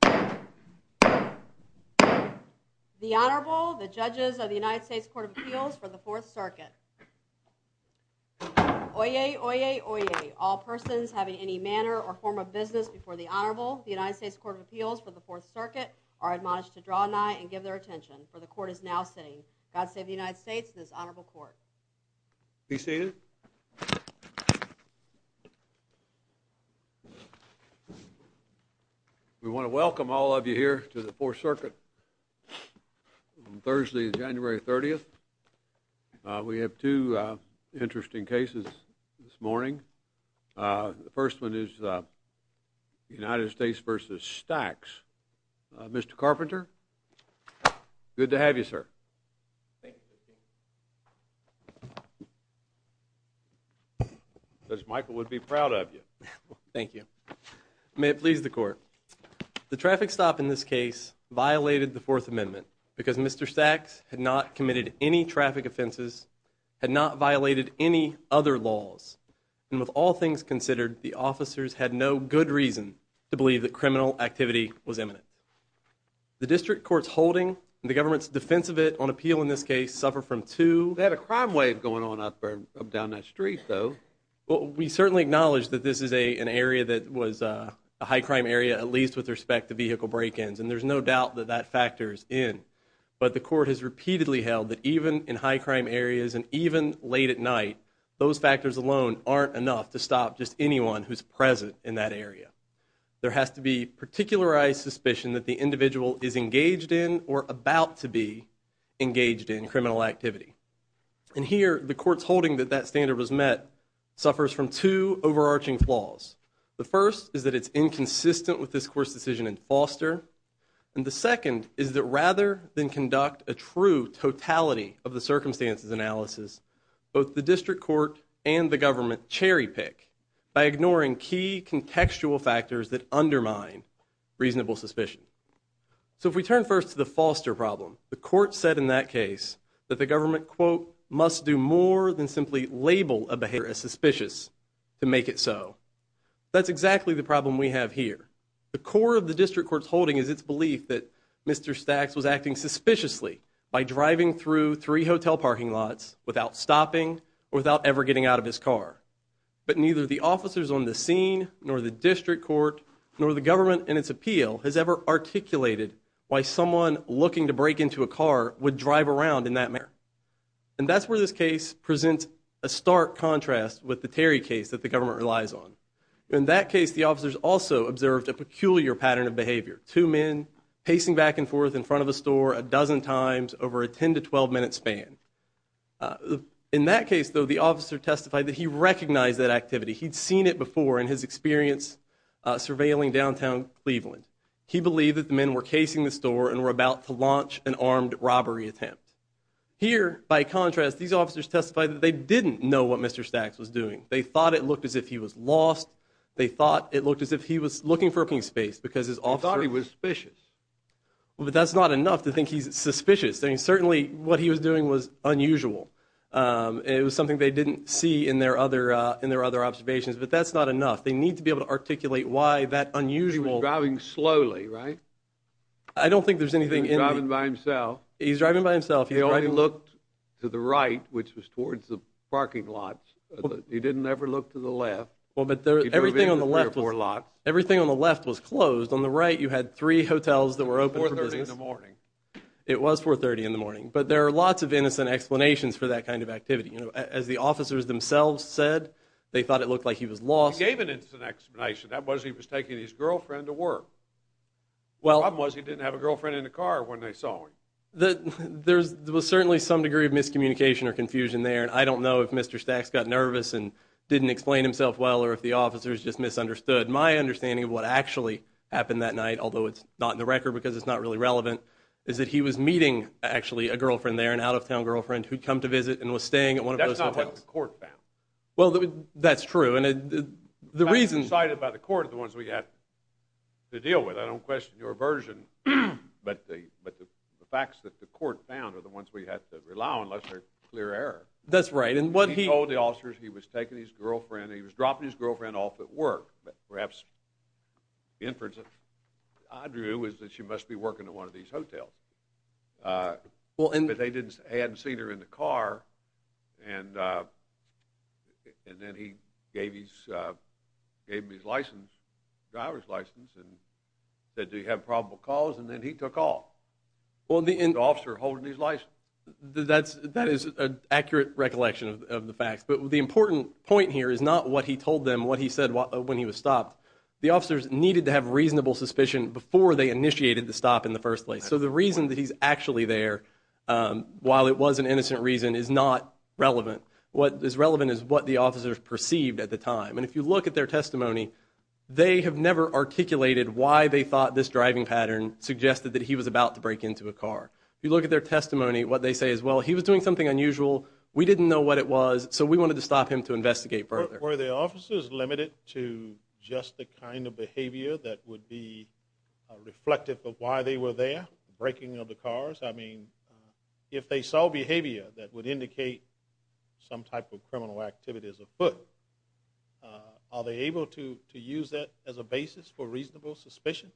The Honorable, the Judges of the United States Court of Appeals for the 4th Circuit. Oyez, Oyez, Oyez, all persons having any manner or form of business before the Honorable, the United States Court of Appeals for the 4th Circuit, are admonished to draw nigh and give their attention, for the Court is now sitting. God save the United States and this Honorable Court. Be seated. We want to welcome all of you here to the 4th Circuit on Thursday, January 30th. We have two interesting cases this morning. The first one is United States v. Stacks. Mr. Carpenter, good to have you, sir. Michael would be proud of you. Thank you. May it please the Court. The traffic stop in this case violated the Fourth Amendment because Mr. Stacks had not committed any traffic offenses, had not violated any other laws, and with all things considered, the officers had no good reason to believe that criminal activity was imminent. The district court's holding and the government's defense of it on appeal in this case suffer from two... They had a crime wave going on up and down that street, though. Well, we certainly acknowledge that this is an area that was a high-crime area, at least with respect to vehicle break-ins, and there's no doubt that that factor is in. But the Court has repeatedly held that even in high-crime areas and even late at night, those factors alone aren't enough to stop just anyone who's present in that area. There has to be particularized suspicion that the individual is engaged in or about to be engaged in criminal activity. And here, the Court's holding that that standard was met suffers from two overarching flaws. The first is that it's inconsistent with this Court's decision in Foster. And the second is that rather than conduct a true totality of the circumstances analysis, both the district court and the government cherry-pick by ignoring key contextual factors that undermine reasonable suspicion. So if we turn first to the Foster problem, the Court said in that case that the government, quote, must do more than simply label a behavior as suspicious to make it so. That's exactly the problem we have here. The core of the district court's holding is its belief that Mr. Stacks was acting suspiciously by driving through three hotel parking lots without stopping or without ever getting out of his car. But neither the officers on the scene nor the district court nor the government in its appeal has ever articulated why someone looking to break into a car would drive around in that manner. And that's where this case presents a stark contrast with the Terry case that the government relies on. In that case, the officers also observed a peculiar pattern of behavior, two men pacing back and forth in front of a store a dozen times over a 10 to 12-minute span. In that case, though, the officer testified that he recognized that activity. He'd seen it before in his experience surveilling downtown Cleveland. He believed that the men were casing the store and were about to launch an armed robbery attempt. Here, by contrast, these officers testified that they didn't know what Mr. Stacks was doing. They thought it looked as if he was lost. They thought it looked as if he was looking for a clean space because his officer – He thought he was suspicious. Well, but that's not enough to think he's suspicious. I mean, certainly what he was doing was unusual. It was something they didn't see in their other observations. But that's not enough. They need to be able to articulate why that unusual – He was driving slowly, right? I don't think there's anything in the – He was driving by himself. He was driving by himself. He already looked to the right, which was towards the parking lot. He didn't ever look to the left. Well, but everything on the left was – He drove into three or four lots. Everything on the left was closed. On the right, you had three hotels that were open for business. It was 430 in the morning. It was 430 in the morning. But there are lots of innocent explanations for that kind of activity. As the officers themselves said, they thought it looked like he was lost. He gave an innocent explanation. That was he was taking his girlfriend to work. The problem was he didn't have a girlfriend in the car when they saw him. There was certainly some degree of miscommunication or confusion there, and I don't know if Mr. Stacks got nervous and didn't explain himself well or if the officers just misunderstood my understanding of what actually happened that night, although it's not in the record because it's not really relevant, is that he was meeting, actually, a girlfriend there, an out-of-town girlfriend, who'd come to visit and was staying at one of those hotels. That's not what the court found. Well, that's true, and the reason – The facts cited by the court are the ones we have to deal with. I don't question your version, but the facts that the court found are the ones we have to rely on unless they're clear error. That's right, and what he – He told the officers he was taking his girlfriend, he was dropping his girlfriend off at work, but perhaps the inference that I drew is that she must be working at one of these hotels. But they hadn't seen her in the car, and then he gave him his license, driver's license, and said, do you have probable cause? And then he took off, the officer holding his license. That is an accurate recollection of the facts, but the important point here is not what he told them, what he said when he was stopped. The officers needed to have reasonable suspicion before they initiated the stop in the first place. So the reason that he's actually there, while it was an innocent reason, is not relevant. What is relevant is what the officers perceived at the time, and if you look at their testimony, they have never articulated why they thought this driving pattern suggested that he was about to break into a car. If you look at their testimony, what they say is, well, he was doing something unusual, we didn't know what it was, so we wanted to stop him to investigate further. Were the officers limited to just the kind of behavior that would be reflective of why they were there, the breaking of the cars? I mean, if they saw behavior that would indicate some type of criminal activity as a foot, are they able to use that as a basis for reasonable suspicion?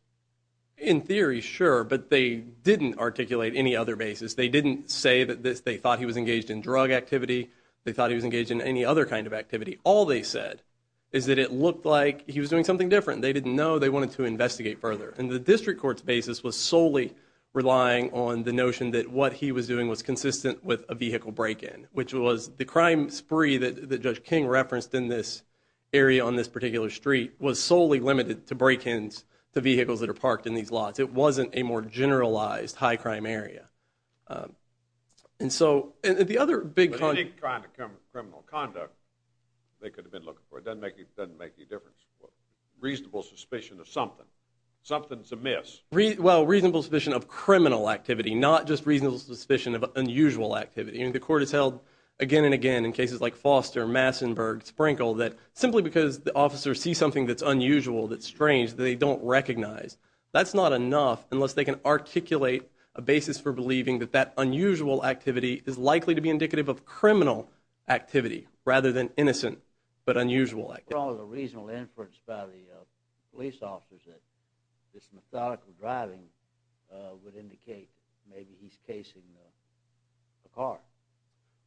In theory, sure, but they didn't articulate any other basis. They didn't say that they thought he was engaged in drug activity. They thought he was engaged in any other kind of activity. All they said is that it looked like he was doing something different. They didn't know. They wanted to investigate further, and the district court's basis was solely relying on the notion that what he was doing was consistent with a vehicle break-in, which was the crime spree that Judge King referenced in this area on this particular street was solely limited to break-ins to vehicles that are parked in these lots. It wasn't a more generalized high-crime area. But any kind of criminal conduct they could have been looking for doesn't make any difference. Reasonable suspicion of something. Something's amiss. Well, reasonable suspicion of criminal activity, not just reasonable suspicion of unusual activity. The court has held again and again in cases like Foster, Massenburg, Sprinkel, that simply because the officers see something that's unusual, that's strange, that they don't recognize, that's not enough unless they can articulate a basis for believing that that unusual activity is likely to be indicative of criminal activity rather than innocent but unusual activity. There was a reasonable inference by the police officers that this methodical driving would indicate maybe he's casing a car.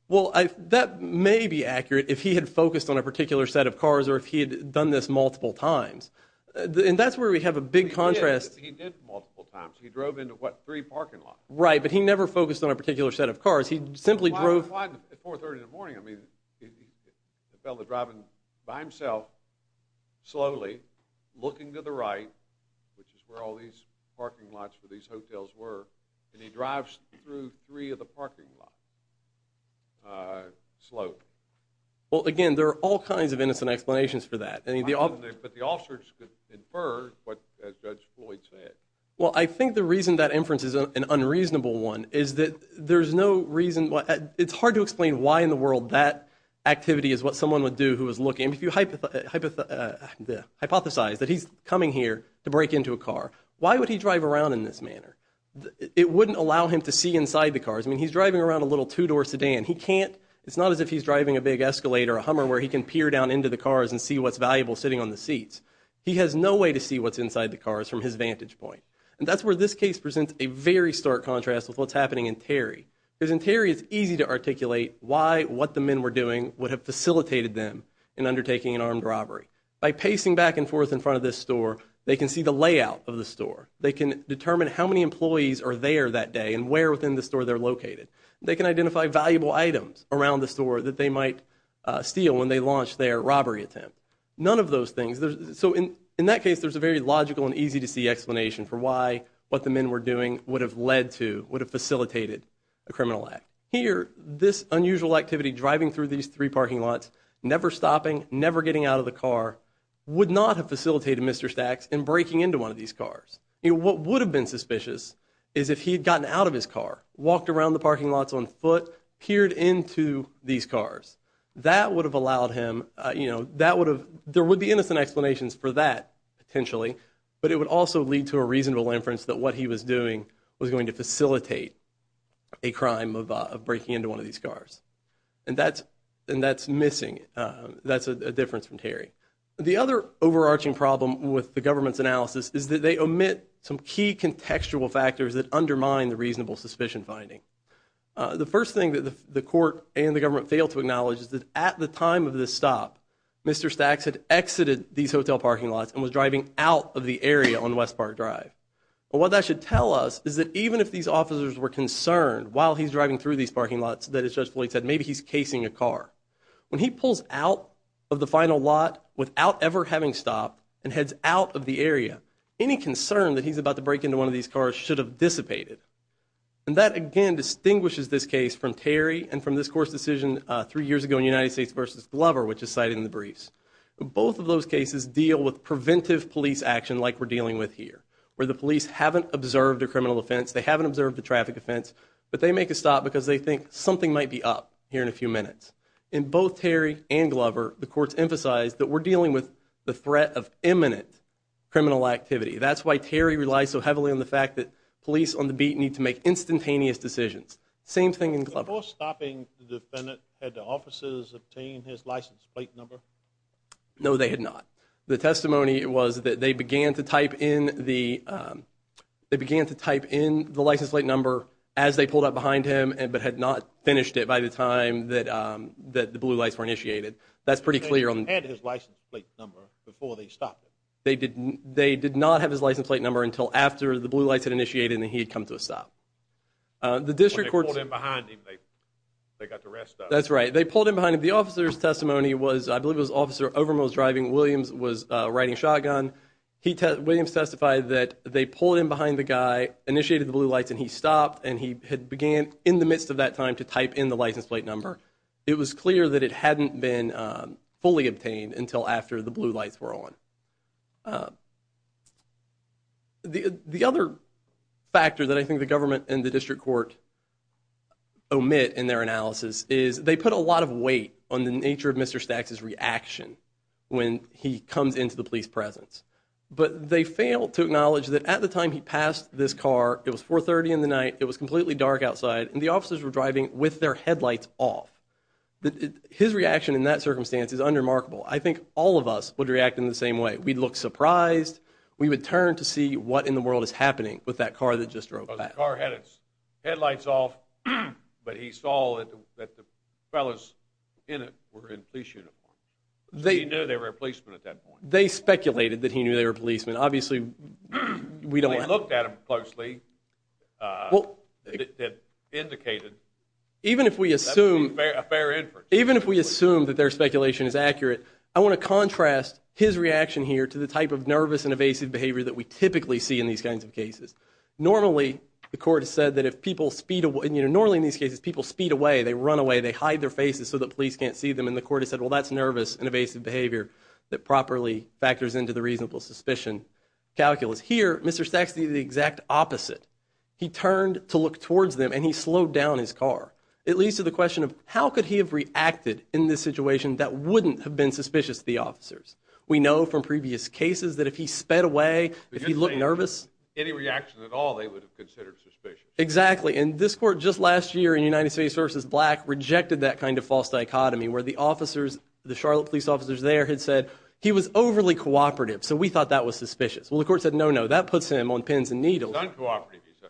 Well, that may be accurate if he had focused on a particular set of cars or if he had done this multiple times. And that's where we have a big contrast. He did multiple times. He drove into, what, three parking lots. Right, but he never focused on a particular set of cars. He simply drove. Why at 430 in the morning? I mean, the fellow driving by himself, slowly, looking to the right, which is where all these parking lots for these hotels were, and he drives through three of the parking lots, slow. Well, again, there are all kinds of innocent explanations for that. But the officers inferred what Judge Floyd said. Well, I think the reason that inference is an unreasonable one is that there's no reason. It's hard to explain why in the world that activity is what someone would do who was looking. If you hypothesize that he's coming here to break into a car, why would he drive around in this manner? It wouldn't allow him to see inside the cars. I mean, he's driving around a little two-door sedan. He can't. It's not as if he's driving a big Escalade or a Hummer where he can peer down into the cars and see what's valuable sitting on the seats. He has no way to see what's inside the cars from his vantage point. And that's where this case presents a very stark contrast with what's happening in Terry, because in Terry it's easy to articulate why what the men were doing would have facilitated them in undertaking an armed robbery. By pacing back and forth in front of this store, they can see the layout of the store. They can determine how many employees are there that day and where within the store they're located. They can identify valuable items around the store that they might steal when they launch their robbery attempt. None of those things. So in that case, there's a very logical and easy-to-see explanation for why what the men were doing would have led to, would have facilitated a criminal act. Here, this unusual activity, driving through these three parking lots, never stopping, never getting out of the car, would not have facilitated Mr. Stacks in breaking into one of these cars. What would have been suspicious is if he had gotten out of his car, walked around the parking lots on foot, peered into these cars. That would have allowed him, you know, that would have, there would be innocent explanations for that potentially, but it would also lead to a reasonable inference that what he was doing was going to facilitate a crime of breaking into one of these cars. And that's missing. That's a difference from Terry. The other overarching problem with the government's analysis is that they omit some key contextual factors that undermine the reasonable suspicion finding. The first thing that the court and the government fail to acknowledge is that at the time of this stop, Mr. Stacks had exited these hotel parking lots and was driving out of the area on West Park Drive. What that should tell us is that even if these officers were concerned while he's driving through these parking lots, that as Judge Floyd said, maybe he's casing a car. When he pulls out of the final lot without ever having stopped and heads out of the area, any concern that he's about to break into one of these cars should have dissipated. And that, again, distinguishes this case from Terry and from this court's decision three years ago in United States v. Glover, which is cited in the briefs. Both of those cases deal with preventive police action like we're dealing with here, where the police haven't observed a criminal offense, they haven't observed a traffic offense, but they make a stop because they think something might be up here in a few minutes. In both Terry and Glover, the courts emphasize that we're dealing with the threat of imminent criminal activity. That's why Terry relies so heavily on the fact that police on the beat need to make instantaneous decisions. Same thing in Glover. Before stopping the defendant, had the officers obtained his license plate number? No, they had not. The testimony was that they began to type in the license plate number as they pulled up behind him but had not finished it by the time that the blue lights were initiated. That's pretty clear. They had his license plate number before they stopped him. They did not have his license plate number until after the blue lights had initiated and he had come to a stop. When they pulled in behind him, they got the rest of him. That's right. They pulled in behind him. The officer's testimony was, I believe it was Officer Overmose driving. Williams was riding shotgun. Williams testified that they pulled in behind the guy, initiated the blue lights, and he stopped, and he had began in the midst of that time to type in the license plate number. It was clear that it hadn't been fully obtained until after the blue lights were on. The other factor that I think the government and the district court omit in their analysis is they put a lot of weight on the nature of Mr. Staxx's reaction when he comes into the police presence. But they failed to acknowledge that at the time he passed this car, it was 4.30 in the night, it was completely dark outside, and the officers were driving with their headlights off. His reaction in that circumstance is unremarkable. I think all of us would react in the same way. We'd look surprised. We would turn to see what in the world is happening with that car that just drove by. The car had its headlights off, but he saw that the fellows in it were in police uniform. He knew they were policemen at that point. They speculated that he knew they were policemen. Obviously, we don't have that. They looked at him closely. They indicated that would be a fair inference. Even if we assume that their speculation is accurate, I want to contrast his reaction here to the type of nervous and evasive behavior that we typically see in these kinds of cases. Normally, the court has said that if people speed away, normally in these cases people speed away, they run away, they hide their faces so that police can't see them, and the court has said, well, that's nervous and evasive behavior that properly factors into the reasonable suspicion calculus. Here, Mr. Staxx did the exact opposite. He turned to look towards them, and he slowed down his car. It leads to the question of how could he have reacted in this situation that wouldn't have been suspicious to the officers. We know from previous cases that if he sped away, if he looked nervous. Any reaction at all, they would have considered suspicious. Exactly, and this court just last year in United States v. Black rejected that kind of false dichotomy where the officers, the Charlotte police officers there had said he was overly cooperative, so we thought that was suspicious. Well, the court said no, no, that puts him on pins and needles. He's uncooperative, he said.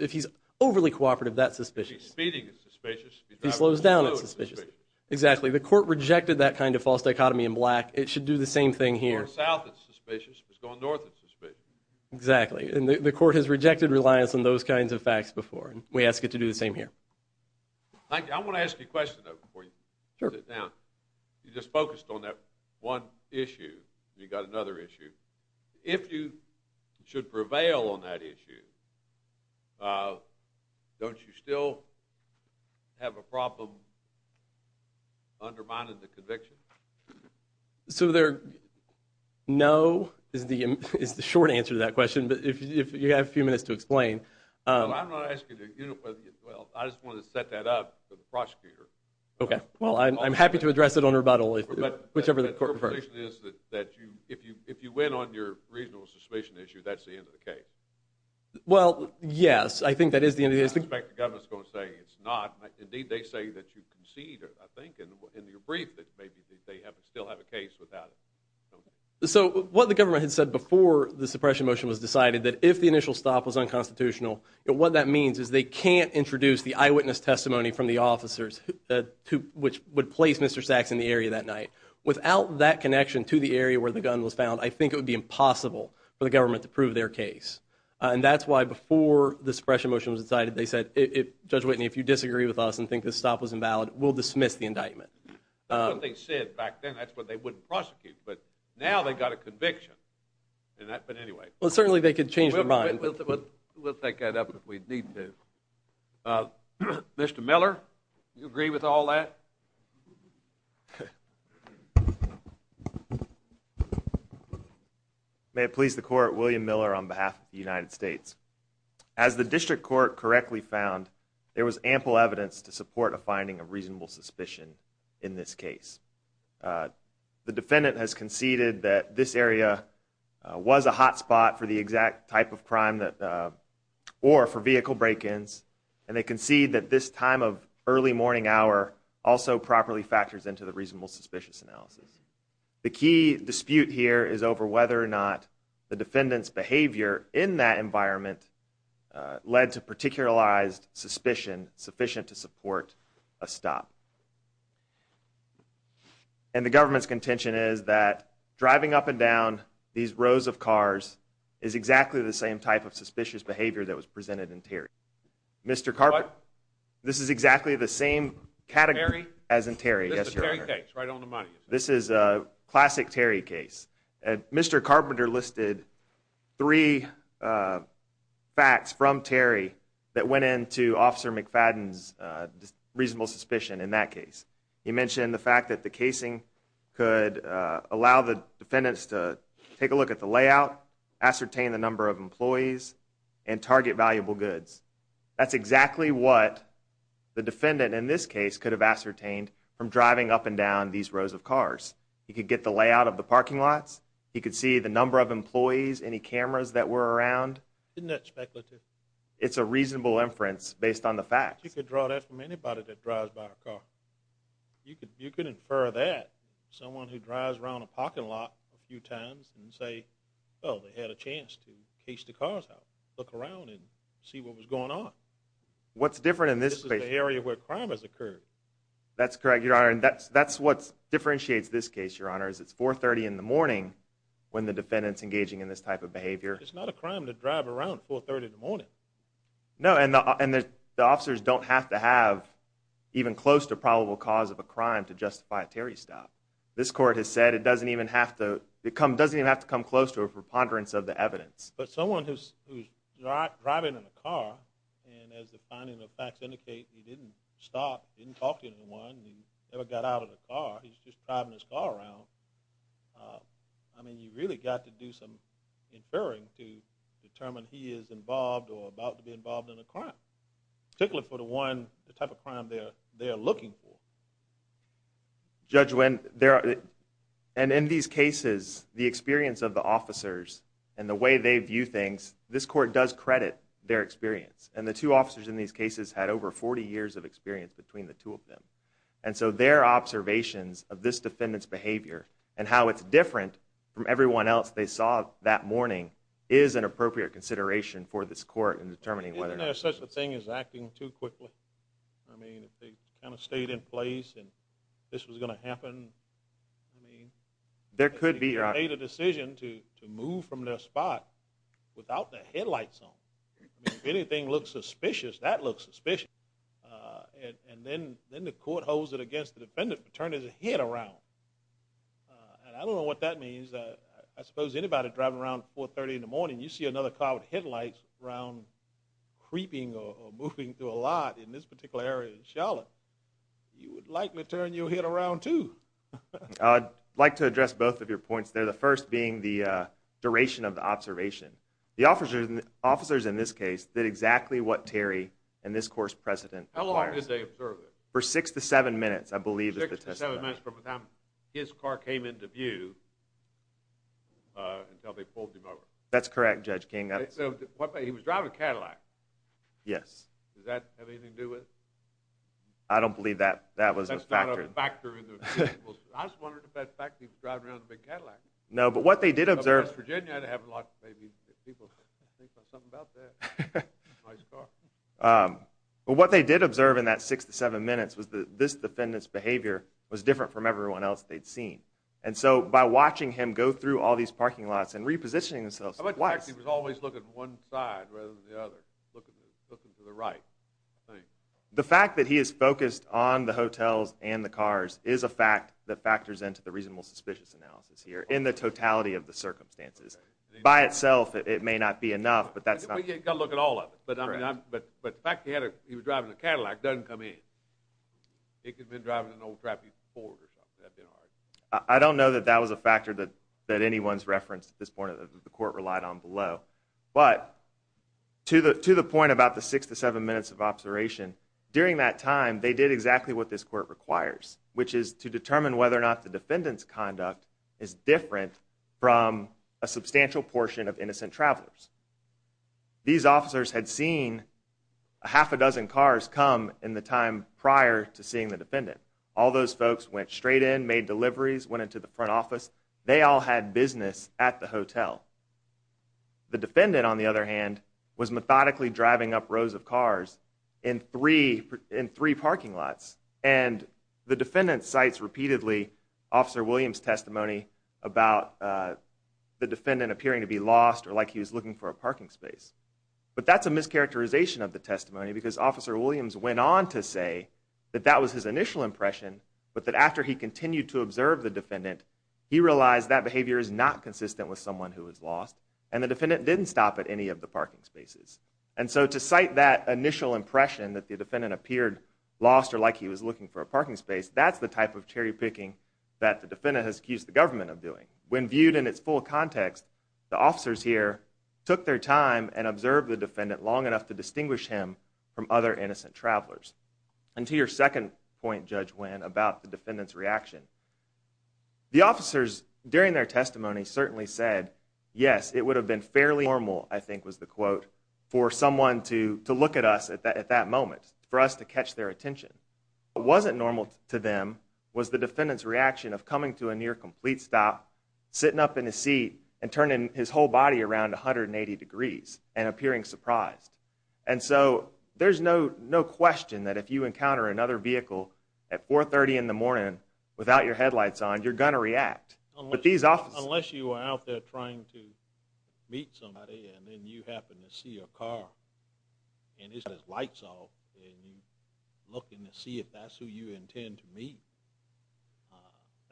If he's overly cooperative, that's suspicious. If he's speeding, it's suspicious. If he's driving slow, it's suspicious. Exactly, the court rejected that kind of false dichotomy in Black. It should do the same thing here. If he's going south, it's suspicious. If he's going north, it's suspicious. Exactly, and the court has rejected reliance on those kinds of facts before, and we ask it to do the same here. I want to ask you a question, though, before you sit down. You just focused on that one issue, and you've got another issue. If you should prevail on that issue, don't you still have a problem undermining the conviction? So the no is the short answer to that question, but you have a few minutes to explain. I'm not asking you to unify the issue. I just wanted to set that up for the prosecutor. Well, I'm happy to address it on rebuttal, whichever the court prefers. My suspicion is that if you win on your reasonable suspicion issue, that's the end of the case. Well, yes, I think that is the end of the case. I suspect the government is going to say it's not. Indeed, they say that you concede, I think, in your brief, that maybe they still have a case without it. So what the government had said before the suppression motion was decided, that if the initial stop was unconstitutional, what that means is they can't introduce the eyewitness testimony from the officers, which would place Mr. Sachs in the area that night. Without that connection to the area where the gun was found, I think it would be impossible for the government to prove their case. And that's why before the suppression motion was decided, they said, Judge Whitney, if you disagree with us and think this stop was invalid, we'll dismiss the indictment. That's what they said back then. That's what they would prosecute. But now they've got a conviction. But anyway. Well, certainly they could change their mind. We'll take that up if we need to. Mr. Miller, do you agree with all that? May it please the court, William Miller on behalf of the United States. As the district court correctly found, there was ample evidence to support a finding of reasonable suspicion in this case. The defendant has conceded that this area was a hot spot for the exact type of crime, or for vehicle break-ins. And they concede that this time of early morning hour also properly factors into the reasonable suspicious analysis. The key dispute here is over whether or not the defendant's behavior in that environment led to particularized suspicion sufficient to support a stop. And the government's contention is that driving up and down these rows of cars is exactly the same type of suspicious behavior that was presented in Terry. Mr. Carpenter. What? This is exactly the same category as in Terry. This is a Terry case, right on the money. This is a classic Terry case. Mr. Carpenter listed three facts from Terry that went into Officer McFadden's reasonable suspicion in that case. He mentioned the fact that the casing could allow the defendants to take a look at the layout, ascertain the number of employees, and target valuable goods. That's exactly what the defendant in this case could have ascertained from driving up and down these rows of cars. He could get the layout of the parking lots. He could see the number of employees, any cameras that were around. Isn't that speculative? It's a reasonable inference based on the facts. You could draw that from anybody that drives by a car. You could infer that from someone who drives around a parking lot a few times and say, oh, they had a chance to case the cars out, look around and see what was going on. What's different in this case? This is the area where crime has occurred. That's correct, Your Honor, and that's what differentiates this case, Your Honor, is it's 4.30 in the morning when the defendant's engaging in this type of behavior. It's not a crime to drive around 4.30 in the morning. No, and the officers don't have to have even close to a probable cause of a crime to justify a Terry stop. This court has said it doesn't even have to come close to a preponderance of the evidence. But someone who's driving in a car, and as the finding of facts indicate, he didn't stop, he didn't talk to anyone, he never got out of the car. He's just driving his car around. I mean, you've really got to do some inferring to determine he is involved or about to be involved in a crime, particularly for the type of crime they are looking for. Judge Wynn, and in these cases, the experience of the officers and the way they view things, this court does credit their experience. And the two officers in these cases had over 40 years of experience between the two of them. And so their observations of this defendant's behavior and how it's different from everyone else they saw that morning is an appropriate consideration for this court in determining whether... Isn't there such a thing as acting too quickly? I mean, if they kind of stayed in place and this was going to happen, I mean... There could be... They made a decision to move from their spot without their headlights on. If anything looks suspicious, that looks suspicious. And then the court holds it against the defendant to turn his head around. And I don't know what that means. I suppose anybody driving around at 4.30 in the morning, you see another car with headlights around creeping or moving through a lot in this particular area in Charlotte, you would likely turn your head around too. I'd like to address both of your points there, the first being the duration of the observation. The officers in this case did exactly what Terry and this court's president... How long did they observe it? For six to seven minutes, I believe is the testimony. Six to seven minutes from the time his car came into view until they pulled him over. That's correct, Judge King. He was driving a Cadillac. Yes. Does that have anything to do with... I don't believe that was a factor. That's not a factor in the... I was wondering if that factor was driving around in a big Cadillac. No, but what they did observe... In West Virginia, I'd have a lot of people think something about that. Nice car. But what they did observe in that six to seven minutes was that this defendant's behavior was different from everyone else they'd seen. And so by watching him go through all these parking lots and repositioning himself twice... How about the fact that he was always looking one side rather than the other, looking to the right? The fact that he is focused on the hotels and the cars is a fact that factors into the reasonable suspicious analysis here in the totality of the circumstances. By itself, it may not be enough, but that's not... You've got to look at all of it. But the fact that he was driving a Cadillac doesn't come in. It could have been driving an old, crappy Ford or something. I don't know that that was a factor that anyone's referenced at this point that the court relied on below. But to the point about the six to seven minutes of observation, during that time, they did exactly what this court requires, which is to determine whether or not the defendant's conduct is different from a substantial portion of innocent travelers. These officers had seen a half a dozen cars come in the time prior to seeing the defendant. All those folks went straight in, made deliveries, went into the front office. They all had business at the hotel. The defendant, on the other hand, was methodically driving up rows of cars in three parking lots. The defendant cites repeatedly Officer Williams' testimony about the defendant appearing to be lost or like he was looking for a parking space. But that's a mischaracterization of the testimony because Officer Williams went on to say that that was his initial impression, but that after he continued to observe the defendant, he realized that behavior is not consistent with someone who was lost, and the defendant didn't stop at any of the parking spaces. And so to cite that initial impression that the defendant appeared lost or like he was looking for a parking space, that's the type of cherry-picking that the defendant has accused the government of doing. When viewed in its full context, the officers here took their time and observed the defendant long enough to distinguish him from other innocent travelers. And to your second point, Judge Winn, about the defendant's reaction, the officers, during their testimony, certainly said, yes, it would have been fairly normal, I think was the quote, for someone to look at us at that moment, for us to catch their attention. What wasn't normal to them was the defendant's reaction of coming to a near-complete stop, sitting up in his seat, and turning his whole body around 180 degrees and appearing surprised. And so there's no question that if you encounter another vehicle at 4.30 in the morning without your headlights on, you're going to react. Unless you are out there trying to meet somebody and then you happen to see a car and it's got its lights off and you're looking to see if that's who you intend to meet,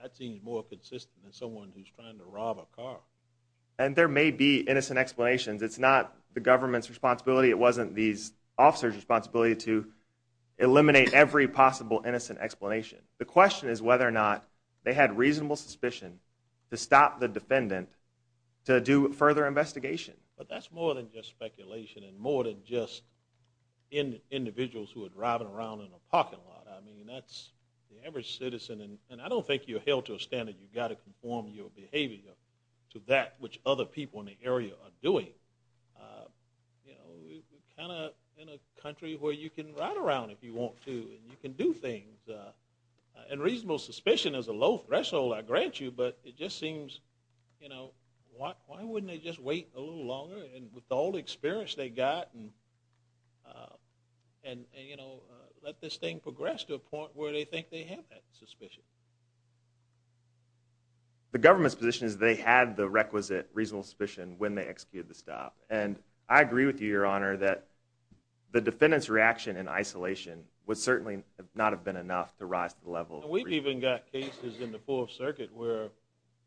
that seems more consistent than someone who's trying to rob a car. And there may be innocent explanations. It's not the government's responsibility. It wasn't these officers' responsibility to eliminate every possible innocent explanation. The question is whether or not they had reasonable suspicion to stop the defendant to do further investigation. But that's more than just speculation and more than just individuals who are driving around in a parking lot. I mean, that's the average citizen. And I don't think you're held to a standard you've got to conform your behavior to that which other people in the area are doing. You know, we're kind of in a country where you can ride around if you want to and you can do things. And reasonable suspicion is a low threshold, I grant you, but it just seems, you know, why wouldn't they just wait a little longer with all the experience they got and, you know, let this thing progress to a point where they think they have that suspicion? The government's position is they had the requisite reasonable suspicion when they executed the stop. And I agree with you, Your Honor, that the defendant's reaction in isolation would certainly not have been enough to rise to the level. We've even got cases in the Fourth Circuit where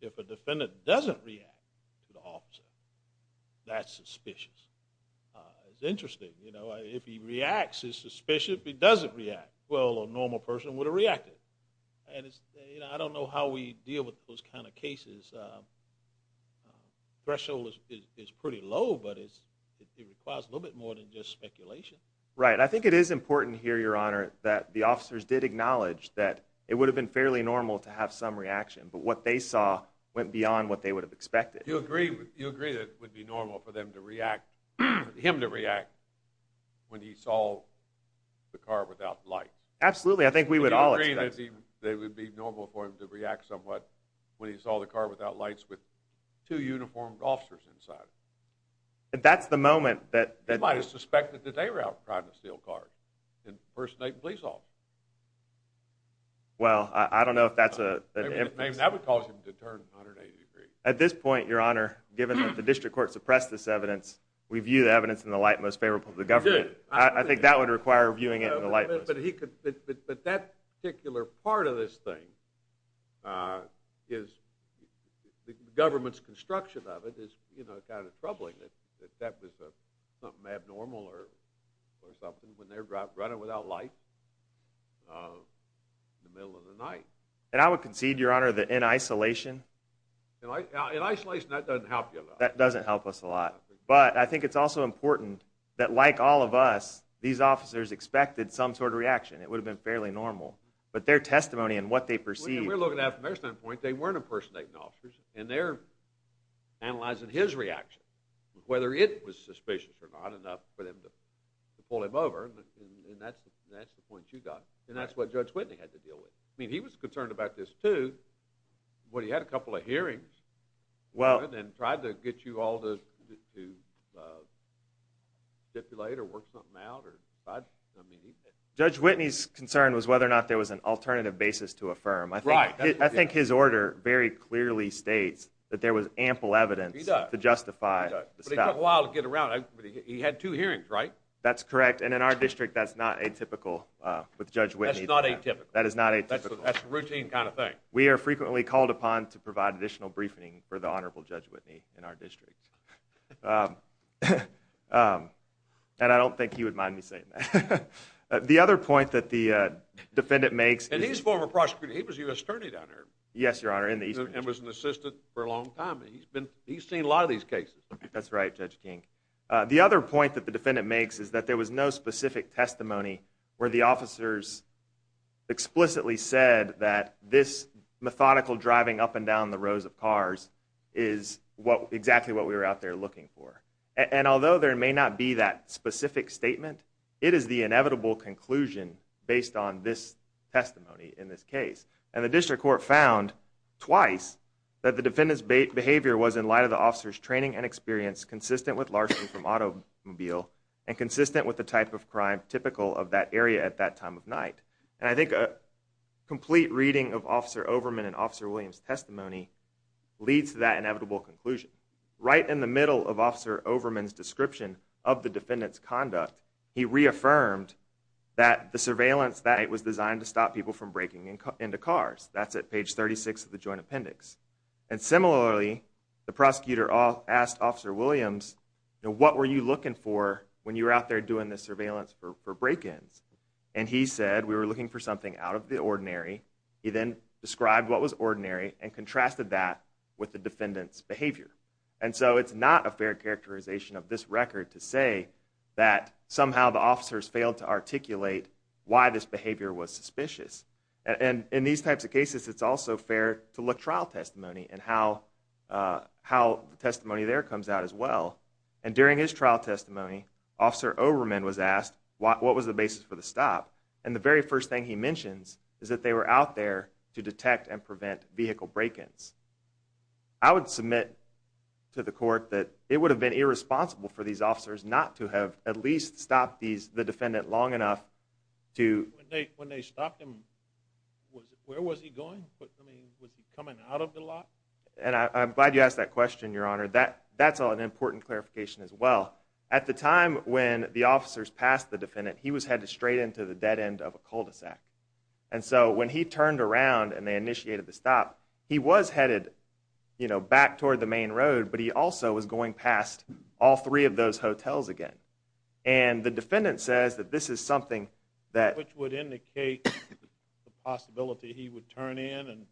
if a defendant doesn't react to the officer, that's suspicious. It's interesting. You know, if he reacts, he's suspicious. If he doesn't react, well, a normal person would have reacted. And, you know, I don't know how we deal with those kind of cases. Threshold is pretty low, but it requires a little bit more than just speculation. Right. I think it is important here, Your Honor, that the officers did acknowledge that it would have been fairly normal to have some reaction, but what they saw went beyond what they would have expected. Do you agree that it would be normal for them to react, for him to react when he saw the car without light? Absolutely. I think we would all expect it. Do you agree that it would be normal for him to react somewhat when he saw the car without lights with two uniformed officers inside it? That's the moment that... impersonate police officers. Well, I don't know if that's a... That would cause him to turn 180 degrees. At this point, Your Honor, given that the district court suppressed this evidence, we view the evidence in the light most favorable to the government. We do. I think that would require viewing it in the light most favorable. But that particular part of this thing is the government's construction of it is, you know, kind of troubling. If that was something abnormal or something, when they're running without light in the middle of the night. And I would concede, Your Honor, that in isolation... In isolation, that doesn't help you a lot. That doesn't help us a lot. But I think it's also important that, like all of us, these officers expected some sort of reaction. It would have been fairly normal. But their testimony and what they perceived... We're looking at it from their standpoint. They weren't impersonating officers, and they're analyzing his reaction, whether it was suspicious or not, enough for them to pull him over. And that's the point you got. And that's what Judge Whitney had to deal with. I mean, he was concerned about this, too, when he had a couple of hearings and tried to get you all to stipulate or work something out. Judge Whitney's concern was whether or not there was an alternative basis to affirm. Right. I think his order very clearly states that there was ample evidence to justify the statement. But it took a while to get around. He had two hearings, right? That's correct. And in our district, that's not atypical with Judge Whitney. That's not atypical. That is not atypical. That's a routine kind of thing. We are frequently called upon to provide additional briefing for the Honorable Judge Whitney in our district. And I don't think he would mind me saying that. The other point that the defendant makes... And he's a former prosecutor. He was a U.S. attorney down there. Yes, Your Honor. And was an assistant for a long time. He's seen a lot of these cases. That's right, Judge King. The other point that the defendant makes is that there was no specific testimony where the officers explicitly said that this methodical driving up and down the rows of cars is exactly what we were out there looking for. And although there may not be that specific statement, it is the inevitable conclusion based on this testimony in this case. And the district court found twice that the defendant's behavior was in light of the officer's training and experience consistent with largely from automobile and consistent with the type of crime typical of that area at that time of night. And I think a complete reading of Officer Overman and Officer Williams' testimony leads to that inevitable conclusion. Right in the middle of Officer Overman's description of the defendant's conduct, he reaffirmed that the surveillance that night was designed to stop people from breaking into cars. That's at page 36 of the Joint Appendix. And similarly, the prosecutor asked Officer Williams, what were you looking for when you were out there doing this surveillance for break-ins? And he said, we were looking for something out of the ordinary. He then described what was ordinary and contrasted that with the defendant's behavior. And so it's not a fair characterization of this record to say that somehow the officers failed to articulate why this behavior was suspicious. And in these types of cases, it's also fair to look at trial testimony and how the testimony there comes out as well. And during his trial testimony, Officer Overman was asked, what was the basis for the stop? And the very first thing he mentions is that they were out there to detect and prevent vehicle break-ins. I would submit to the court that it would have been irresponsible for these officers not to have at least stopped the defendant long enough to... When they stopped him, where was he going? I mean, was he coming out of the lot? And I'm glad you asked that question, Your Honor. That's an important clarification as well. At the time when the officers passed the defendant, he was headed straight into the dead end of a cul-de-sac. And so when he turned around and they initiated the stop, he was headed back toward the main road, but he also was going past all three of those hotels again. And the defendant says that this is something that... Which would indicate the possibility he would turn in and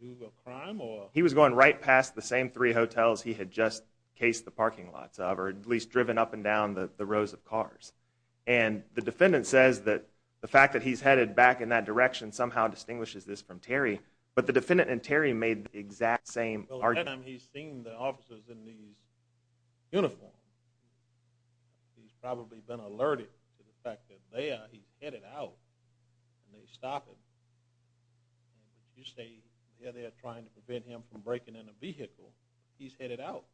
do a crime or...? He was going right past the same three hotels he had just cased the parking lots of or at least driven up and down the rows of cars. And the defendant says that the fact that he's headed back in that direction somehow distinguishes this from Terry. But the defendant and Terry made the exact same argument. Well, then he's seen the officers in these uniforms. He's probably been alerted to the fact that there he's headed out and they stop him. If you say they're there trying to prevent him from breaking in a vehicle, he's headed out.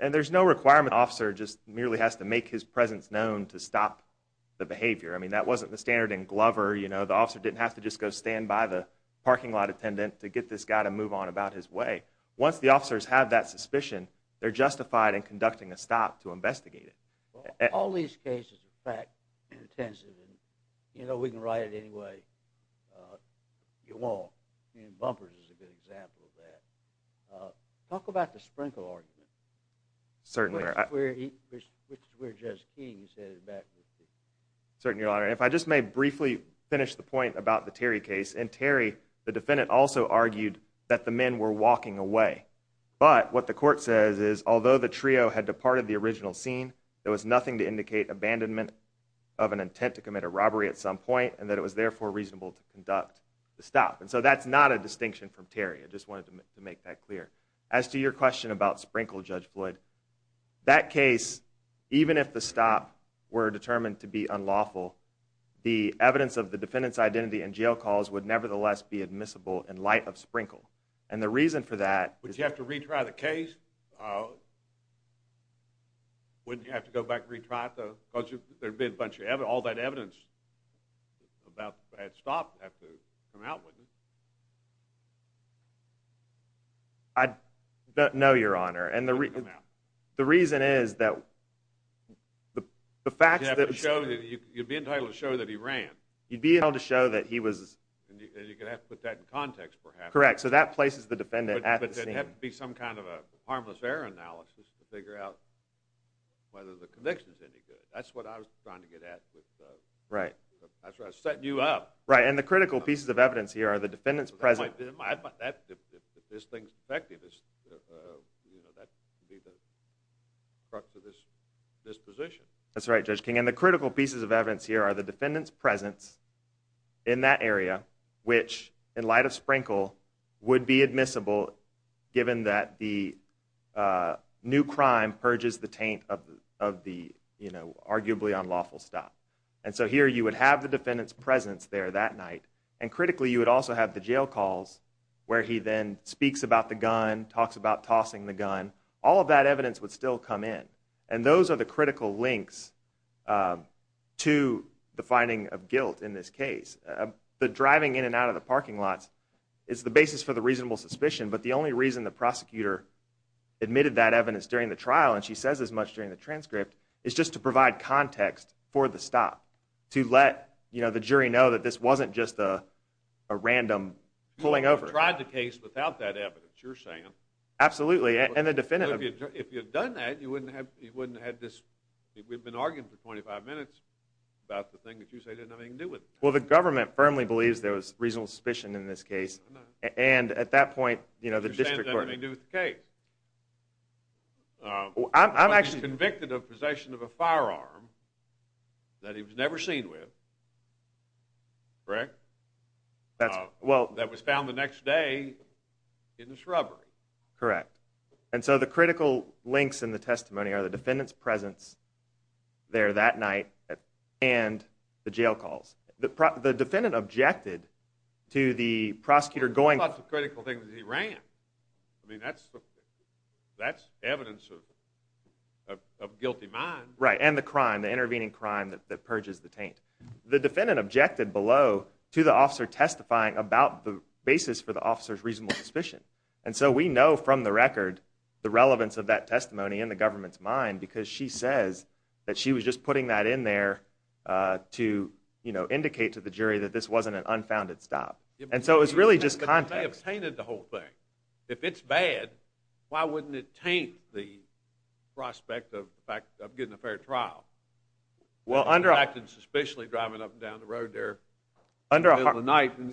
And there's no requirement the officer just merely has to make his presence known to stop the behavior. I mean, that wasn't the standard in Glover. You know, the officer didn't have to just go stand by the parking lot attendant to get this guy to move on about his way. Once the officers have that suspicion, they're justified in conducting a stop to investigate it. Well, all these cases are fact-intensive. And, you know, we can write it any way you want. Bumpers is a good example of that. Talk about the Sprinkle argument. Certainly. Which is where Judge King is headed back. Your Honor, if I just may briefly finish the point about the Terry case. In Terry, the defendant also argued that the men were walking away. But what the court says is, although the trio had departed the original scene, there was nothing to indicate abandonment of an intent to commit a robbery at some point and that it was, therefore, reasonable to conduct the stop. And so that's not a distinction from Terry. I just wanted to make that clear. As to your question about Sprinkle, Judge Floyd, that case, even if the stop were determined to be unlawful, the evidence of the defendant's identity and jail calls would nevertheless be admissible in light of Sprinkle. And the reason for that is... Would you have to retry the case? Wouldn't you have to go back and retry it though? Because there'd be a bunch of evidence, all that evidence, about that stop would have to come out, wouldn't it? No, Your Honor. The reason is that the facts that... You'd be entitled to show that he ran. You'd be entitled to show that he was... And you're going to have to put that in context perhaps. Correct. So that places the defendant at the scene. But there'd have to be some kind of a harmless error analysis to figure out whether the conviction's any good. That's what I was trying to get at with... Right. That's what I was setting you up. Right. And the critical pieces of evidence here are the defendant's presence... If this thing's effective, that would be the crux of this position. That's right, Judge King. And the critical pieces of evidence here are the defendant's presence in that area, which, in light of Sprinkle, would be admissible given that the new crime purges the taint of the arguably unlawful stop. And so here you would have the defendant's presence there that night, and critically, you would also have the jail calls where he then speaks about the gun, talks about tossing the gun. All of that evidence would still come in. And those are the critical links to the finding of guilt in this case. The driving in and out of the parking lot is the basis for the reasonable suspicion, but the only reason the prosecutor admitted that evidence during the trial, and she says as much during the transcript, is just to provide context for the stop, to let the jury know that this wasn't just a random pulling over. You tried the case without that evidence, you're saying. Absolutely, and the defendant... If you had done that, you wouldn't have had this... We've been arguing for 25 minutes about the thing that you say didn't have anything to do with it. Well, the government firmly believes there was reasonable suspicion in this case, and at that point, the district court... You're saying it doesn't have anything to do with the case. He was convicted of possession of a firearm that he was never seen with, correct? That was found the next day in the shrubbery. Correct. And so the critical links in the testimony are the defendant's presence there that night and the jail calls. The defendant objected to the prosecutor going... I mean, that's evidence of guilty mind. Right, and the crime, the intervening crime that purges the taint. The defendant objected below to the officer testifying about the basis for the officer's reasonable suspicion. And so we know from the record the relevance of that testimony in the government's mind because she says that she was just putting that in there to indicate to the jury that this wasn't an unfounded stop. And so it was really just context. But they have tainted the whole thing. If it's bad, why wouldn't it taint the prospect of getting a fair trial? Well, under... He acted suspiciously driving up and down the road there in the middle of the night and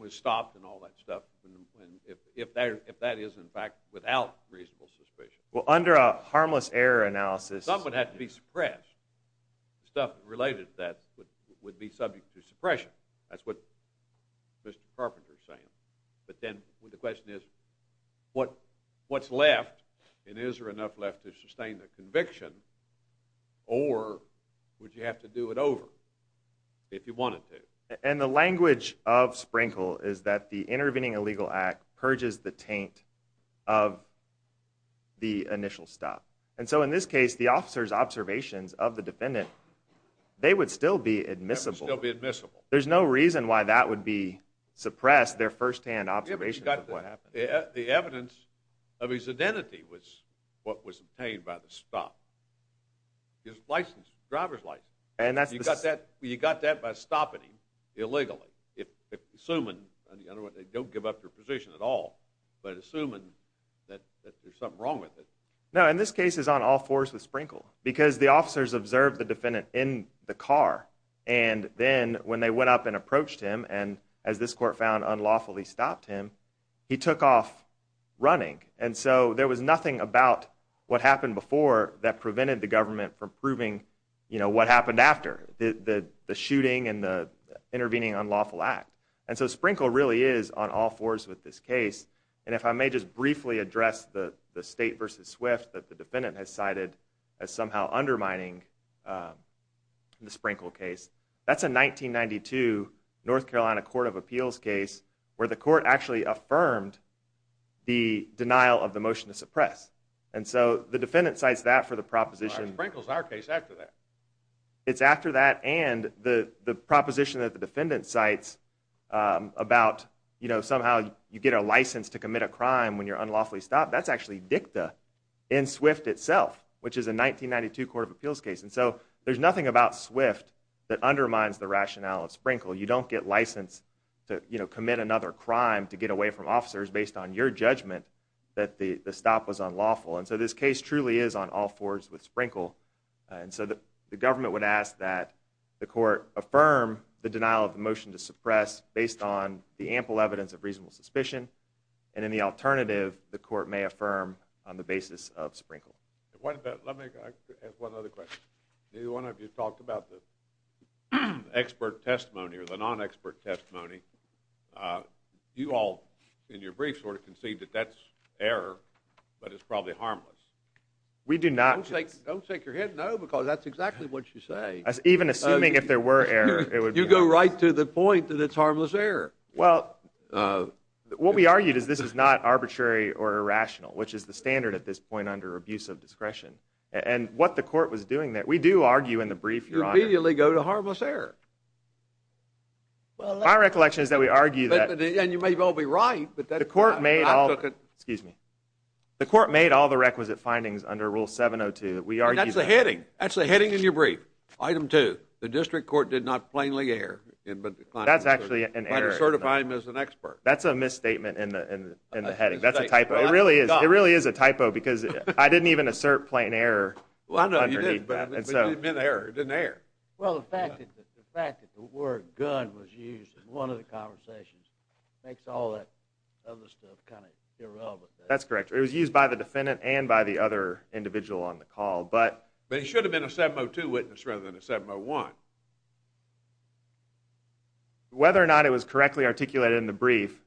was stopped and all that stuff, if that is, in fact, without reasonable suspicion. Well, under a harmless error analysis... Some would have to be suppressed. Stuff related to that would be subject to suppression. That's what Mr. Carpenter is saying. But then the question is, what's left, and is there enough left to sustain the conviction, or would you have to do it over if you wanted to? And the language of Sprinkle is that the intervening illegal act purges the taint of the initial stop. And so in this case, the officer's observations of the defendant, they would still be admissible. They would still be admissible. There's no reason why that would be suppressed, their firsthand observations of what happened. The evidence of his identity was what was obtained by the stop. His license, driver's license. You got that by stopping him illegally, assuming, in other words, they don't give up their position at all, but assuming that there's something wrong with it. No, and this case is on all fours with Sprinkle, because the officers observed the defendant in the car, and then when they went up and approached him, and as this court found, unlawfully stopped him, he took off running. And so there was nothing about what happened before that prevented the government from proving what happened after, the shooting and the intervening unlawful act. And so Sprinkle really is on all fours with this case. And if I may just briefly address the State v. Swift that the defendant has cited as somehow undermining the Sprinkle case, that's a 1992 North Carolina Court of Appeals case where the court actually affirmed the denial of the motion to suppress. And so the defendant cites that for the proposition. Sprinkle's our case after that. It's after that and the proposition that the defendant cites about somehow you get a license to commit a crime when you're unlawfully stopped, that's actually dicta in Swift itself, which is a 1992 Court of Appeals case. And so there's nothing about Swift that undermines the rationale of Sprinkle. You don't get license to commit another crime to get away from officers based on your judgment that the stop was unlawful. And so this case truly is on all fours with Sprinkle. And so the government would ask that the court affirm the denial of the motion to suppress based on the ample evidence of reasonable suspicion. And in the alternative, the court may affirm on the basis of Sprinkle. Let me ask one other question. Neither one of you talked about the expert testimony or the non-expert testimony. You all in your brief sort of concede that that's error, but it's probably harmless. We do not. Don't shake your head no because that's exactly what you say. Even assuming if there were error, it would be. You go right to the point that it's harmless error. Well, what we argued is this is not arbitrary or irrational, which is the standard at this point under abuse of discretion. And what the court was doing there, we do argue in the brief, Your Honor. You immediately go to harmless error. My recollection is that we argue that... And you may well be right, but that's... The court made all... Excuse me. The court made all the requisite findings under Rule 702. That's the heading. That's the heading in your brief. Item 2. The district court did not plainly err. That's actually an error. By not certifying him as an expert. That's a misstatement in the heading. That's a typo. It really is. It really is a typo because I didn't even assert plain error underneath that. Well, I know you didn't, but it didn't mean error. It didn't err. Well, the fact that the word gun was used in one of the conversations makes all that other stuff kind of irrelevant. That's correct. It was used by the defendant and by the other individual on the call, but... Whether or not it was correctly articulated in the brief,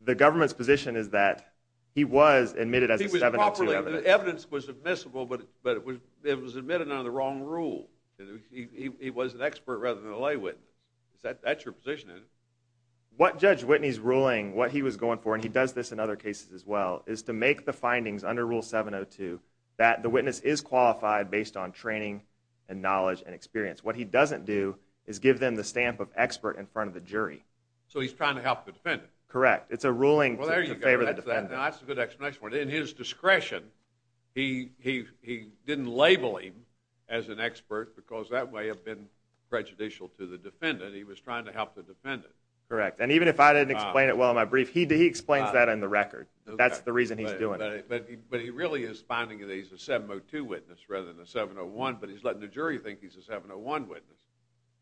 the government's position is that he was admitted as a 702... He was properly... The evidence was admissible, but it was admitted under the wrong rule. He was an expert rather than a lay witness. That's your position, isn't it? What Judge Whitney's ruling, what he was going for, and he does this in other cases as well, is to make the findings under Rule 702 that the witness is qualified based on training and knowledge and experience. What he doesn't do is give them the stamp of expert in front of the jury. So he's trying to help the defendant. Correct. It's a ruling in favor of the defendant. That's a good explanation. In his discretion, he didn't label him as an expert because that would have been prejudicial to the defendant. He was trying to help the defendant. Correct. And even if I didn't explain it well in my brief, he explains that in the record. That's the reason he's doing it. But he really is finding that he's a 702 witness rather than a 701, but he's letting the jury think he's a 701 witness,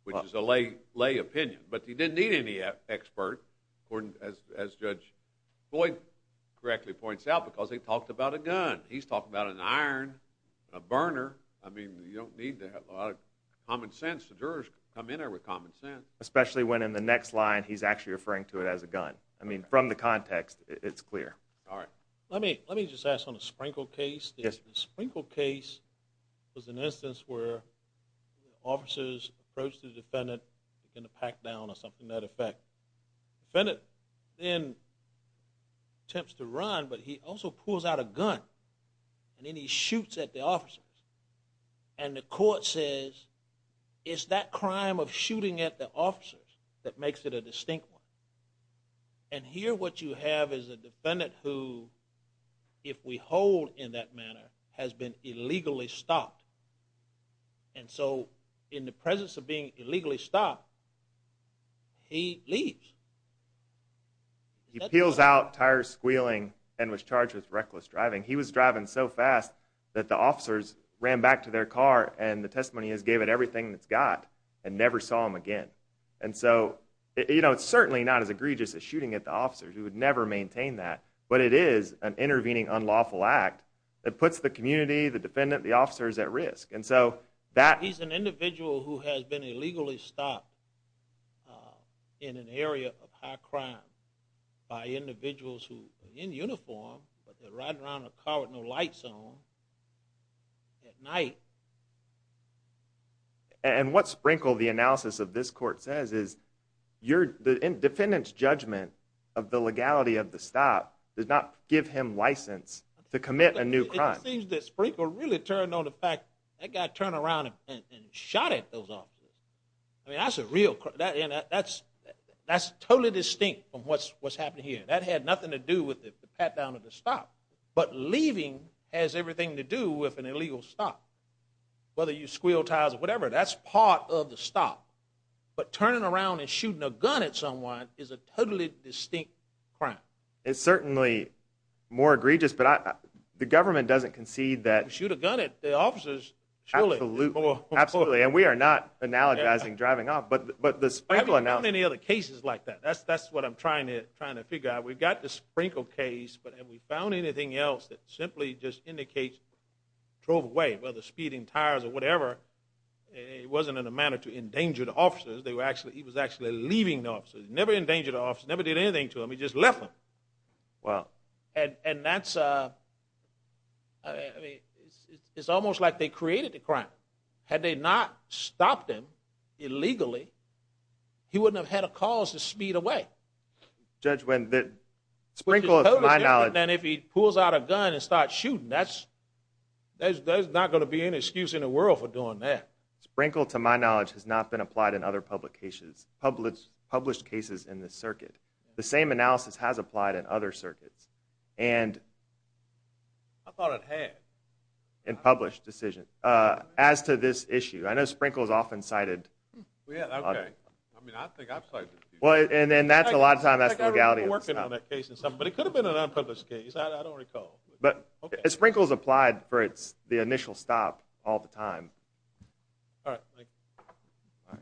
which is a lay opinion. But he didn't need any expert, as Judge Boyd correctly points out, because he talked about a gun. He's talking about an iron, a burner. I mean, you don't need a lot of common sense. The jurors come in there with common sense. Especially when in the next line he's actually referring to it as a gun. I mean, from the context, it's clear. All right. Let me just ask on the Sprinkle case. Yes. The Sprinkle case was an instance where officers approached the defendant looking to pack down or something to that effect. The defendant then attempts to run, but he also pulls out a gun, and then he shoots at the officers. And the court says, it's that crime of shooting at the officers that makes it a distinct one. And here what you have is a defendant who, if we hold in that manner, has been illegally stopped. And so in the presence of being illegally stopped, he leaves. He peels out, tires squealing, and was charged with reckless driving. He was driving so fast that the officers ran back to their car, and the testimony is gave it everything it's got and never saw him again. And so it's certainly not as egregious as shooting at the officers. We would never maintain that. But it is an intervening unlawful act that puts the community, the defendant, the officers at risk. He's an individual who has been illegally stopped in an area of high crime by individuals who are in uniform, but they're riding around in a car with no lights on at night. And what Sprinkle, the analysis of this court, says is the defendant's judgment of the legality of the stop does not give him license to commit a new crime. It seems that Sprinkle really turned on the fact that guy turned around and shot at those officers. I mean, that's a real crime. That's totally distinct from what's happening here. That had nothing to do with the pat-down of the stop. But leaving has everything to do with an illegal stop, whether you squeal, touse, or whatever. That's part of the stop. But turning around and shooting a gun at someone is a totally distinct crime. It's certainly more egregious, but the government doesn't concede that. Shoot a gun at the officers. Absolutely. And we are not analogizing driving off. But the Sprinkle analysis. I haven't found any other cases like that. That's what I'm trying to figure out. We've got the Sprinkle case, but have we found anything else that simply just indicates drove away? Whether speeding, tires, or whatever. It wasn't in a manner to endanger the officers. He was actually leaving the officers. Never endangered the officers. Never did anything to them. He just left them. Wow. And that's a... It's almost like they created the crime. Had they not stopped him illegally, he wouldn't have had a cause to speed away. Judge, when the... Which is totally different than if he pulls out a gun and starts shooting. That's... There's not going to be any excuse in the world for doing that. Sprinkle, to my knowledge, has not been applied in other public cases. Published cases in this circuit. The same analysis has applied in other circuits. And... I thought it had. In published decisions. As to this issue, I know Sprinkle is often cited. Yeah, okay. I mean, I think I've cited it. Well, and then that's a lot of time that's legality. I think I remember working on that case. But it could have been an unpublished case. I don't recall. But Sprinkle's applied for the initial stop all the time. All right.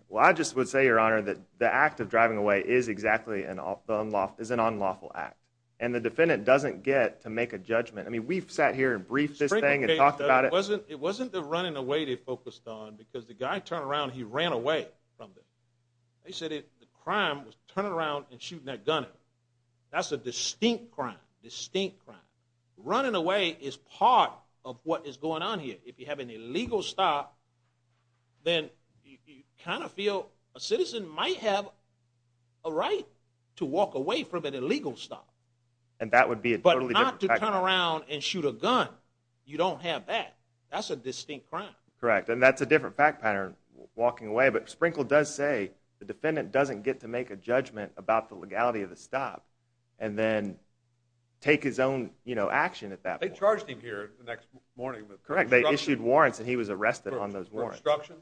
Well, I just would say, Your Honor, that the act of driving away is exactly an unlawful act. And the defendant doesn't get to make a judgment. I mean, we've sat here and briefed this thing and talked about it. It wasn't the running away they focused on because the guy turned around and he ran away from them. They said the crime was turning around and shooting that gun at him. That's a distinct crime. Distinct crime. Running away is part of what is going on here. If you have an illegal stop, then you kind of feel a citizen might have a right to walk away from an illegal stop. And that would be a totally different fact pattern. But not to turn around and shoot a gun. You don't have that. That's a distinct crime. Correct. And that's a different fact pattern, walking away. But Sprinkle does say the defendant doesn't get to make a judgment about the legality of the stop and then take his own action at that point. They charged him here the next morning with obstruction. Correct. They issued warrants and he was arrested on those warrants. For obstruction?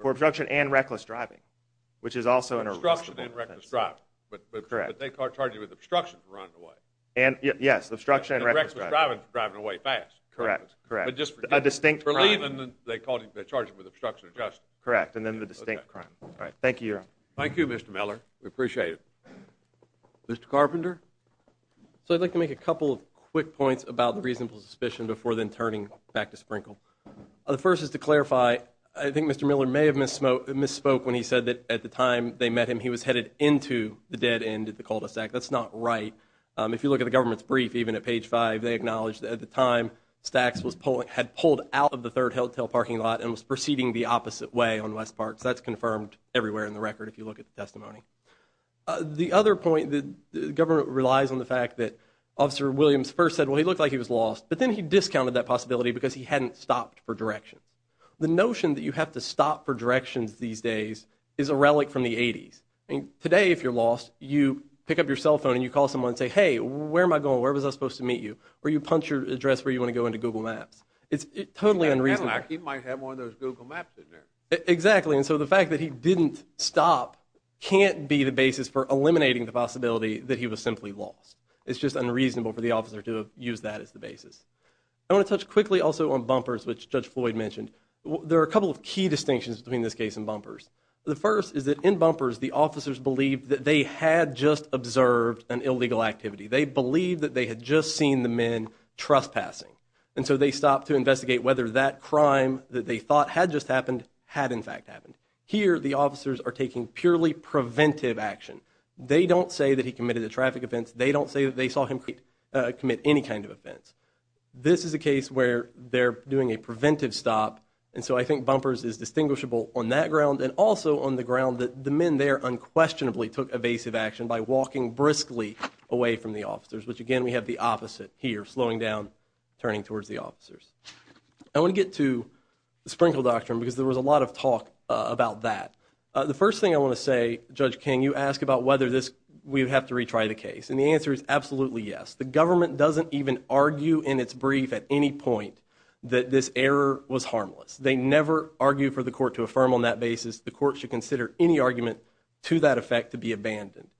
For obstruction and reckless driving, which is also an arrestable offense. Obstruction and reckless driving. Correct. But they charged him with obstruction for running away. Yes, obstruction and reckless driving. And reckless driving for driving away fast. Correct. A distinct crime. For leaving, they charged him with obstruction of justice. Correct. And then the distinct crime. All right. Thank you, Your Honor. Thank you, Mr. Miller. We appreciate it. Mr. Carpenter? So I'd like to make a couple of quick points about the reasonable suspicion before then turning back to Sprinkle. The first is to clarify, I think Mr. Miller may have misspoke when he said that at the time they met him, he was headed into the dead end at the cul-de-sac. That's not right. If you look at the government's brief, even at page 5, they acknowledge that at the time, Stacks had pulled out of the third hotel parking lot and was proceeding the opposite way on West Park. So that's confirmed everywhere in the record if you look at the testimony. The other point, the government relies on the fact that Officer Williams first said, well, he looked like he was lost, but then he discounted that possibility because he hadn't stopped for directions. The notion that you have to stop for directions these days is a relic from the 80s. Today, if you're lost, you pick up your cell phone and you call someone and say, hey, where am I going, where was I supposed to meet you? Or you punch your address where you want to go into Google Maps. It's totally unreasonable. He might have one of those Google Maps in there. Exactly, and so the fact that he didn't stop can't be the basis for eliminating the possibility that he was simply lost. It's just unreasonable for the officer to use that as the basis. I want to touch quickly also on bumpers, which Judge Floyd mentioned. There are a couple of key distinctions between this case and bumpers. The first is that in bumpers, the officers believed that they had just observed an illegal activity. They believed that they had just seen the men trespassing. And so they stopped to investigate whether that crime that they thought had just happened had in fact happened. Here, the officers are taking purely preventive action. They don't say that he committed a traffic offense. They don't say that they saw him commit any kind of offense. This is a case where they're doing a preventive stop, and so I think bumpers is distinguishable on that ground and also on the ground that the men there unquestionably took evasive action by walking briskly away from the officers, which, again, we have the opposite here, slowing down, turning towards the officers. I want to get to the Sprinkle Doctrine because there was a lot of talk about that. The first thing I want to say, Judge King, you ask about whether we have to retry the case, and the answer is absolutely yes. The government doesn't even argue in its brief at any point that this error was harmless. They never argue for the court to affirm on that basis. The court should consider any argument to that effect to be abandoned,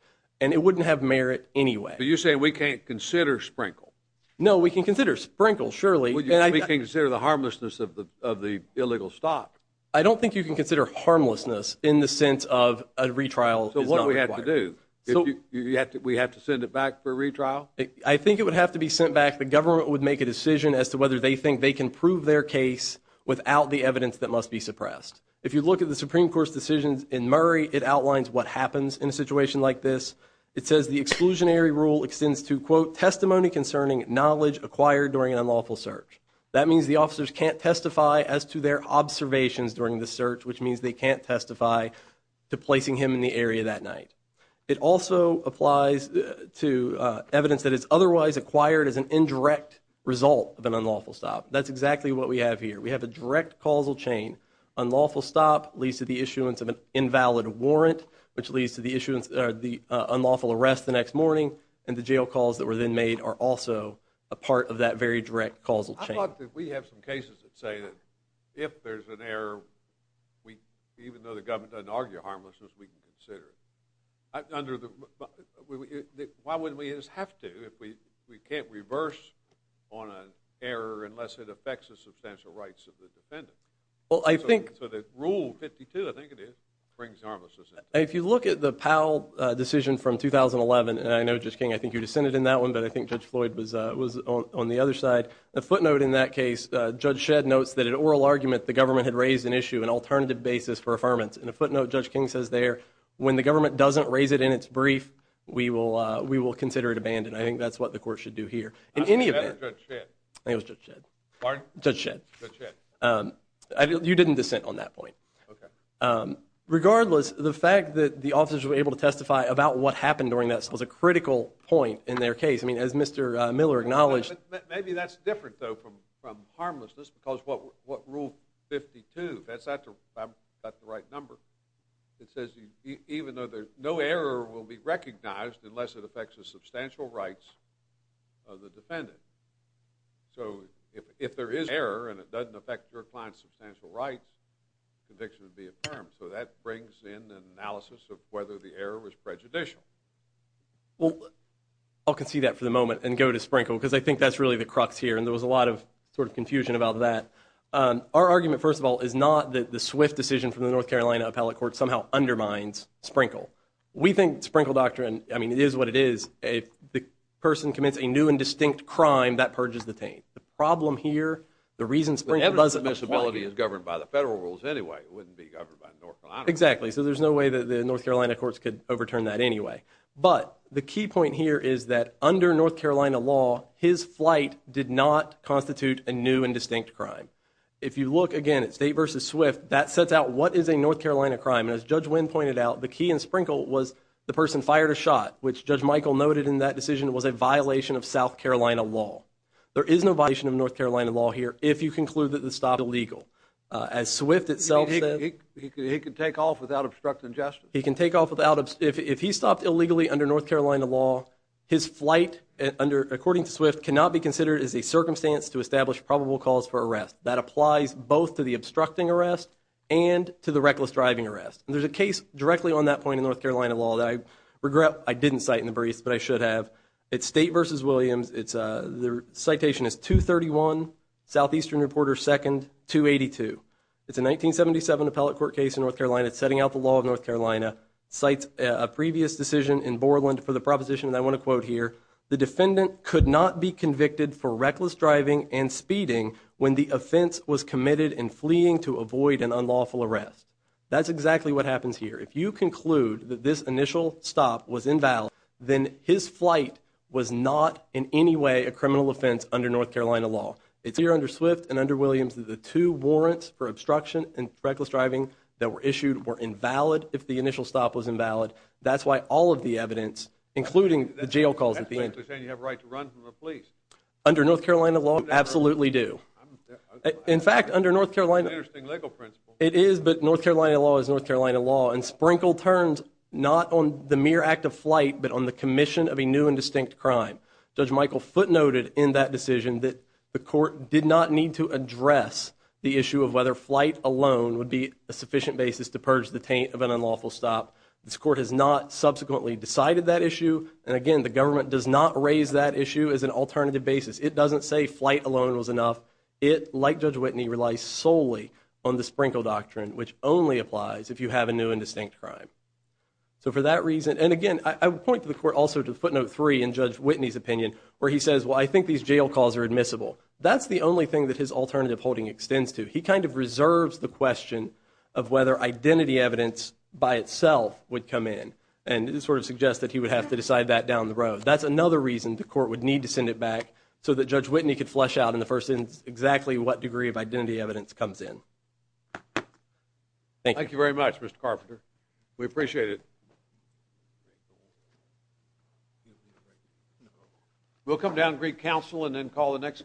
and it wouldn't have merit anyway. But you're saying we can't consider Sprinkle. No, we can consider Sprinkle, surely. We can consider the harmlessness of the illegal stop. I don't think you can consider harmlessness in the sense of a retrial is not required. So what do we have to do? We have to send it back for a retrial? I think it would have to be sent back. The government would make a decision as to whether they think they can prove their case without the evidence that must be suppressed. If you look at the Supreme Court's decisions in Murray, it outlines what happens in a situation like this. It says the exclusionary rule extends to, quote, testimony concerning knowledge acquired during an unlawful search. That means the officers can't testify as to their observations during the search, which means they can't testify to placing him in the area that night. It also applies to evidence that is otherwise acquired as an indirect result of an unlawful stop. That's exactly what we have here. We have a direct causal chain. Unlawful stop leads to the issuance of an invalid warrant, which leads to the unlawful arrest the next morning, and the jail calls that were then made are also a part of that very direct causal chain. I thought that we have some cases that say that if there's an error, even though the government doesn't argue harmlessness, we can consider it. Why wouldn't we just have to if we can't reverse on an error unless it affects the substantial rights of the defendant? So the Rule 52, I think it is, brings harmlessness into it. If you look at the Powell decision from 2011, and I know, Judge King, I think you dissented in that one, but I think Judge Floyd was on the other side. A footnote in that case, Judge Shedd notes that an oral argument, the government had raised an issue, an alternative basis for affirmance. And a footnote, Judge King says there, when the government doesn't raise it in its brief, we will consider it abandoned. I think that's what the court should do here. I said that or Judge Shedd? I think it was Judge Shedd. Pardon? Judge Shedd. Judge Shedd. You didn't dissent on that point. Okay. Regardless, the fact that the officers were able to testify about what happened during that was a critical point in their case. I mean, as Mr. Miller acknowledged. Maybe that's different, though, from harmlessness because what Rule 52, if I've got the right number, it says even though no error will be recognized unless it affects the substantial rights of the defendant. So if there is error and it doesn't affect your client's substantial rights, conviction would be affirmed. So that brings in an analysis of whether the error was prejudicial. Well, I'll concede that for the moment and go to Sprinkle because I think that's really the crux here, and there was a lot of sort of confusion about that. Our argument, first of all, is not that the swift decision from the North Carolina Appellate Court somehow undermines Sprinkle. We think Sprinkle doctrine, I mean, it is what it is. If the person commits a new and distinct crime, that purges the taint. The problem here, the reason Sprinkle doesn't apply. If the disability is governed by the federal rules anyway, it wouldn't be governed by North Carolina. Exactly. So there's no way that the North Carolina courts could overturn that anyway. But the key point here is that under North Carolina law, his flight did not constitute a new and distinct crime. If you look again at State v. Swift, that sets out what is a North Carolina crime, and as Judge Winn pointed out, the key in Sprinkle was the person fired a shot, which Judge Michael noted in that decision was a violation of South Carolina law. There is no violation of North Carolina law here if you conclude that the stop is illegal. As Swift itself said. He could take off without obstructing justice. He can take off without obstructing justice. If he stopped illegally under North Carolina law, his flight, according to Swift, cannot be considered as a circumstance to establish probable cause for arrest. That applies both to the obstructing arrest and to the reckless driving arrest. There's a case directly on that point in North Carolina law that I regret I didn't cite in the briefs, but I should have. It's State v. Williams. The citation is 231, Southeastern Reporter 2nd, 282. It's a 1977 appellate court case in North Carolina. It's setting out the law of North Carolina. Cites a previous decision in Borland for the proposition, and I want to quote here, the defendant could not be convicted for reckless driving and speeding when the offense was committed in fleeing to avoid an unlawful arrest. That's exactly what happens here. If you conclude that this initial stop was invalid, then his flight was not in any way a criminal offense under North Carolina law. It's clear under Swift and under Williams that the two warrants for obstruction and reckless driving that were issued were invalid if the initial stop was invalid. That's why all of the evidence, including the jail calls at the end. That's basically saying you have a right to run from the police. Under North Carolina law, absolutely do. In fact, under North Carolina law, That's an interesting legal principle. It is, but North Carolina law is North Carolina law, and Sprinkle turns not on the mere act of flight, but on the commission of a new and distinct crime. Judge Michael footnoted in that decision that the court did not need to address the issue of whether flight alone would be a sufficient basis to purge the taint of an unlawful stop. This court has not subsequently decided that issue, and again, the government does not raise that issue as an alternative basis. It doesn't say flight alone was enough. It, like Judge Whitney, relies solely on the Sprinkle Doctrine, which only applies if you have a new and distinct crime. So for that reason, and again, I would point to the court also to footnote three in Judge Whitney's opinion, where he says, well, I think these jail calls are admissible. That's the only thing that his alternative holding extends to. He kind of reserves the question of whether identity evidence by itself would come in, and it sort of suggests that he would have to decide that down the road. That's another reason the court would need to send it back so that Judge Whitney could flesh out in the first instance exactly what degree of identity evidence comes in. Thank you. Thank you very much, Mr. Carpenter. We appreciate it. We'll come down to Greek Council and then call the next case.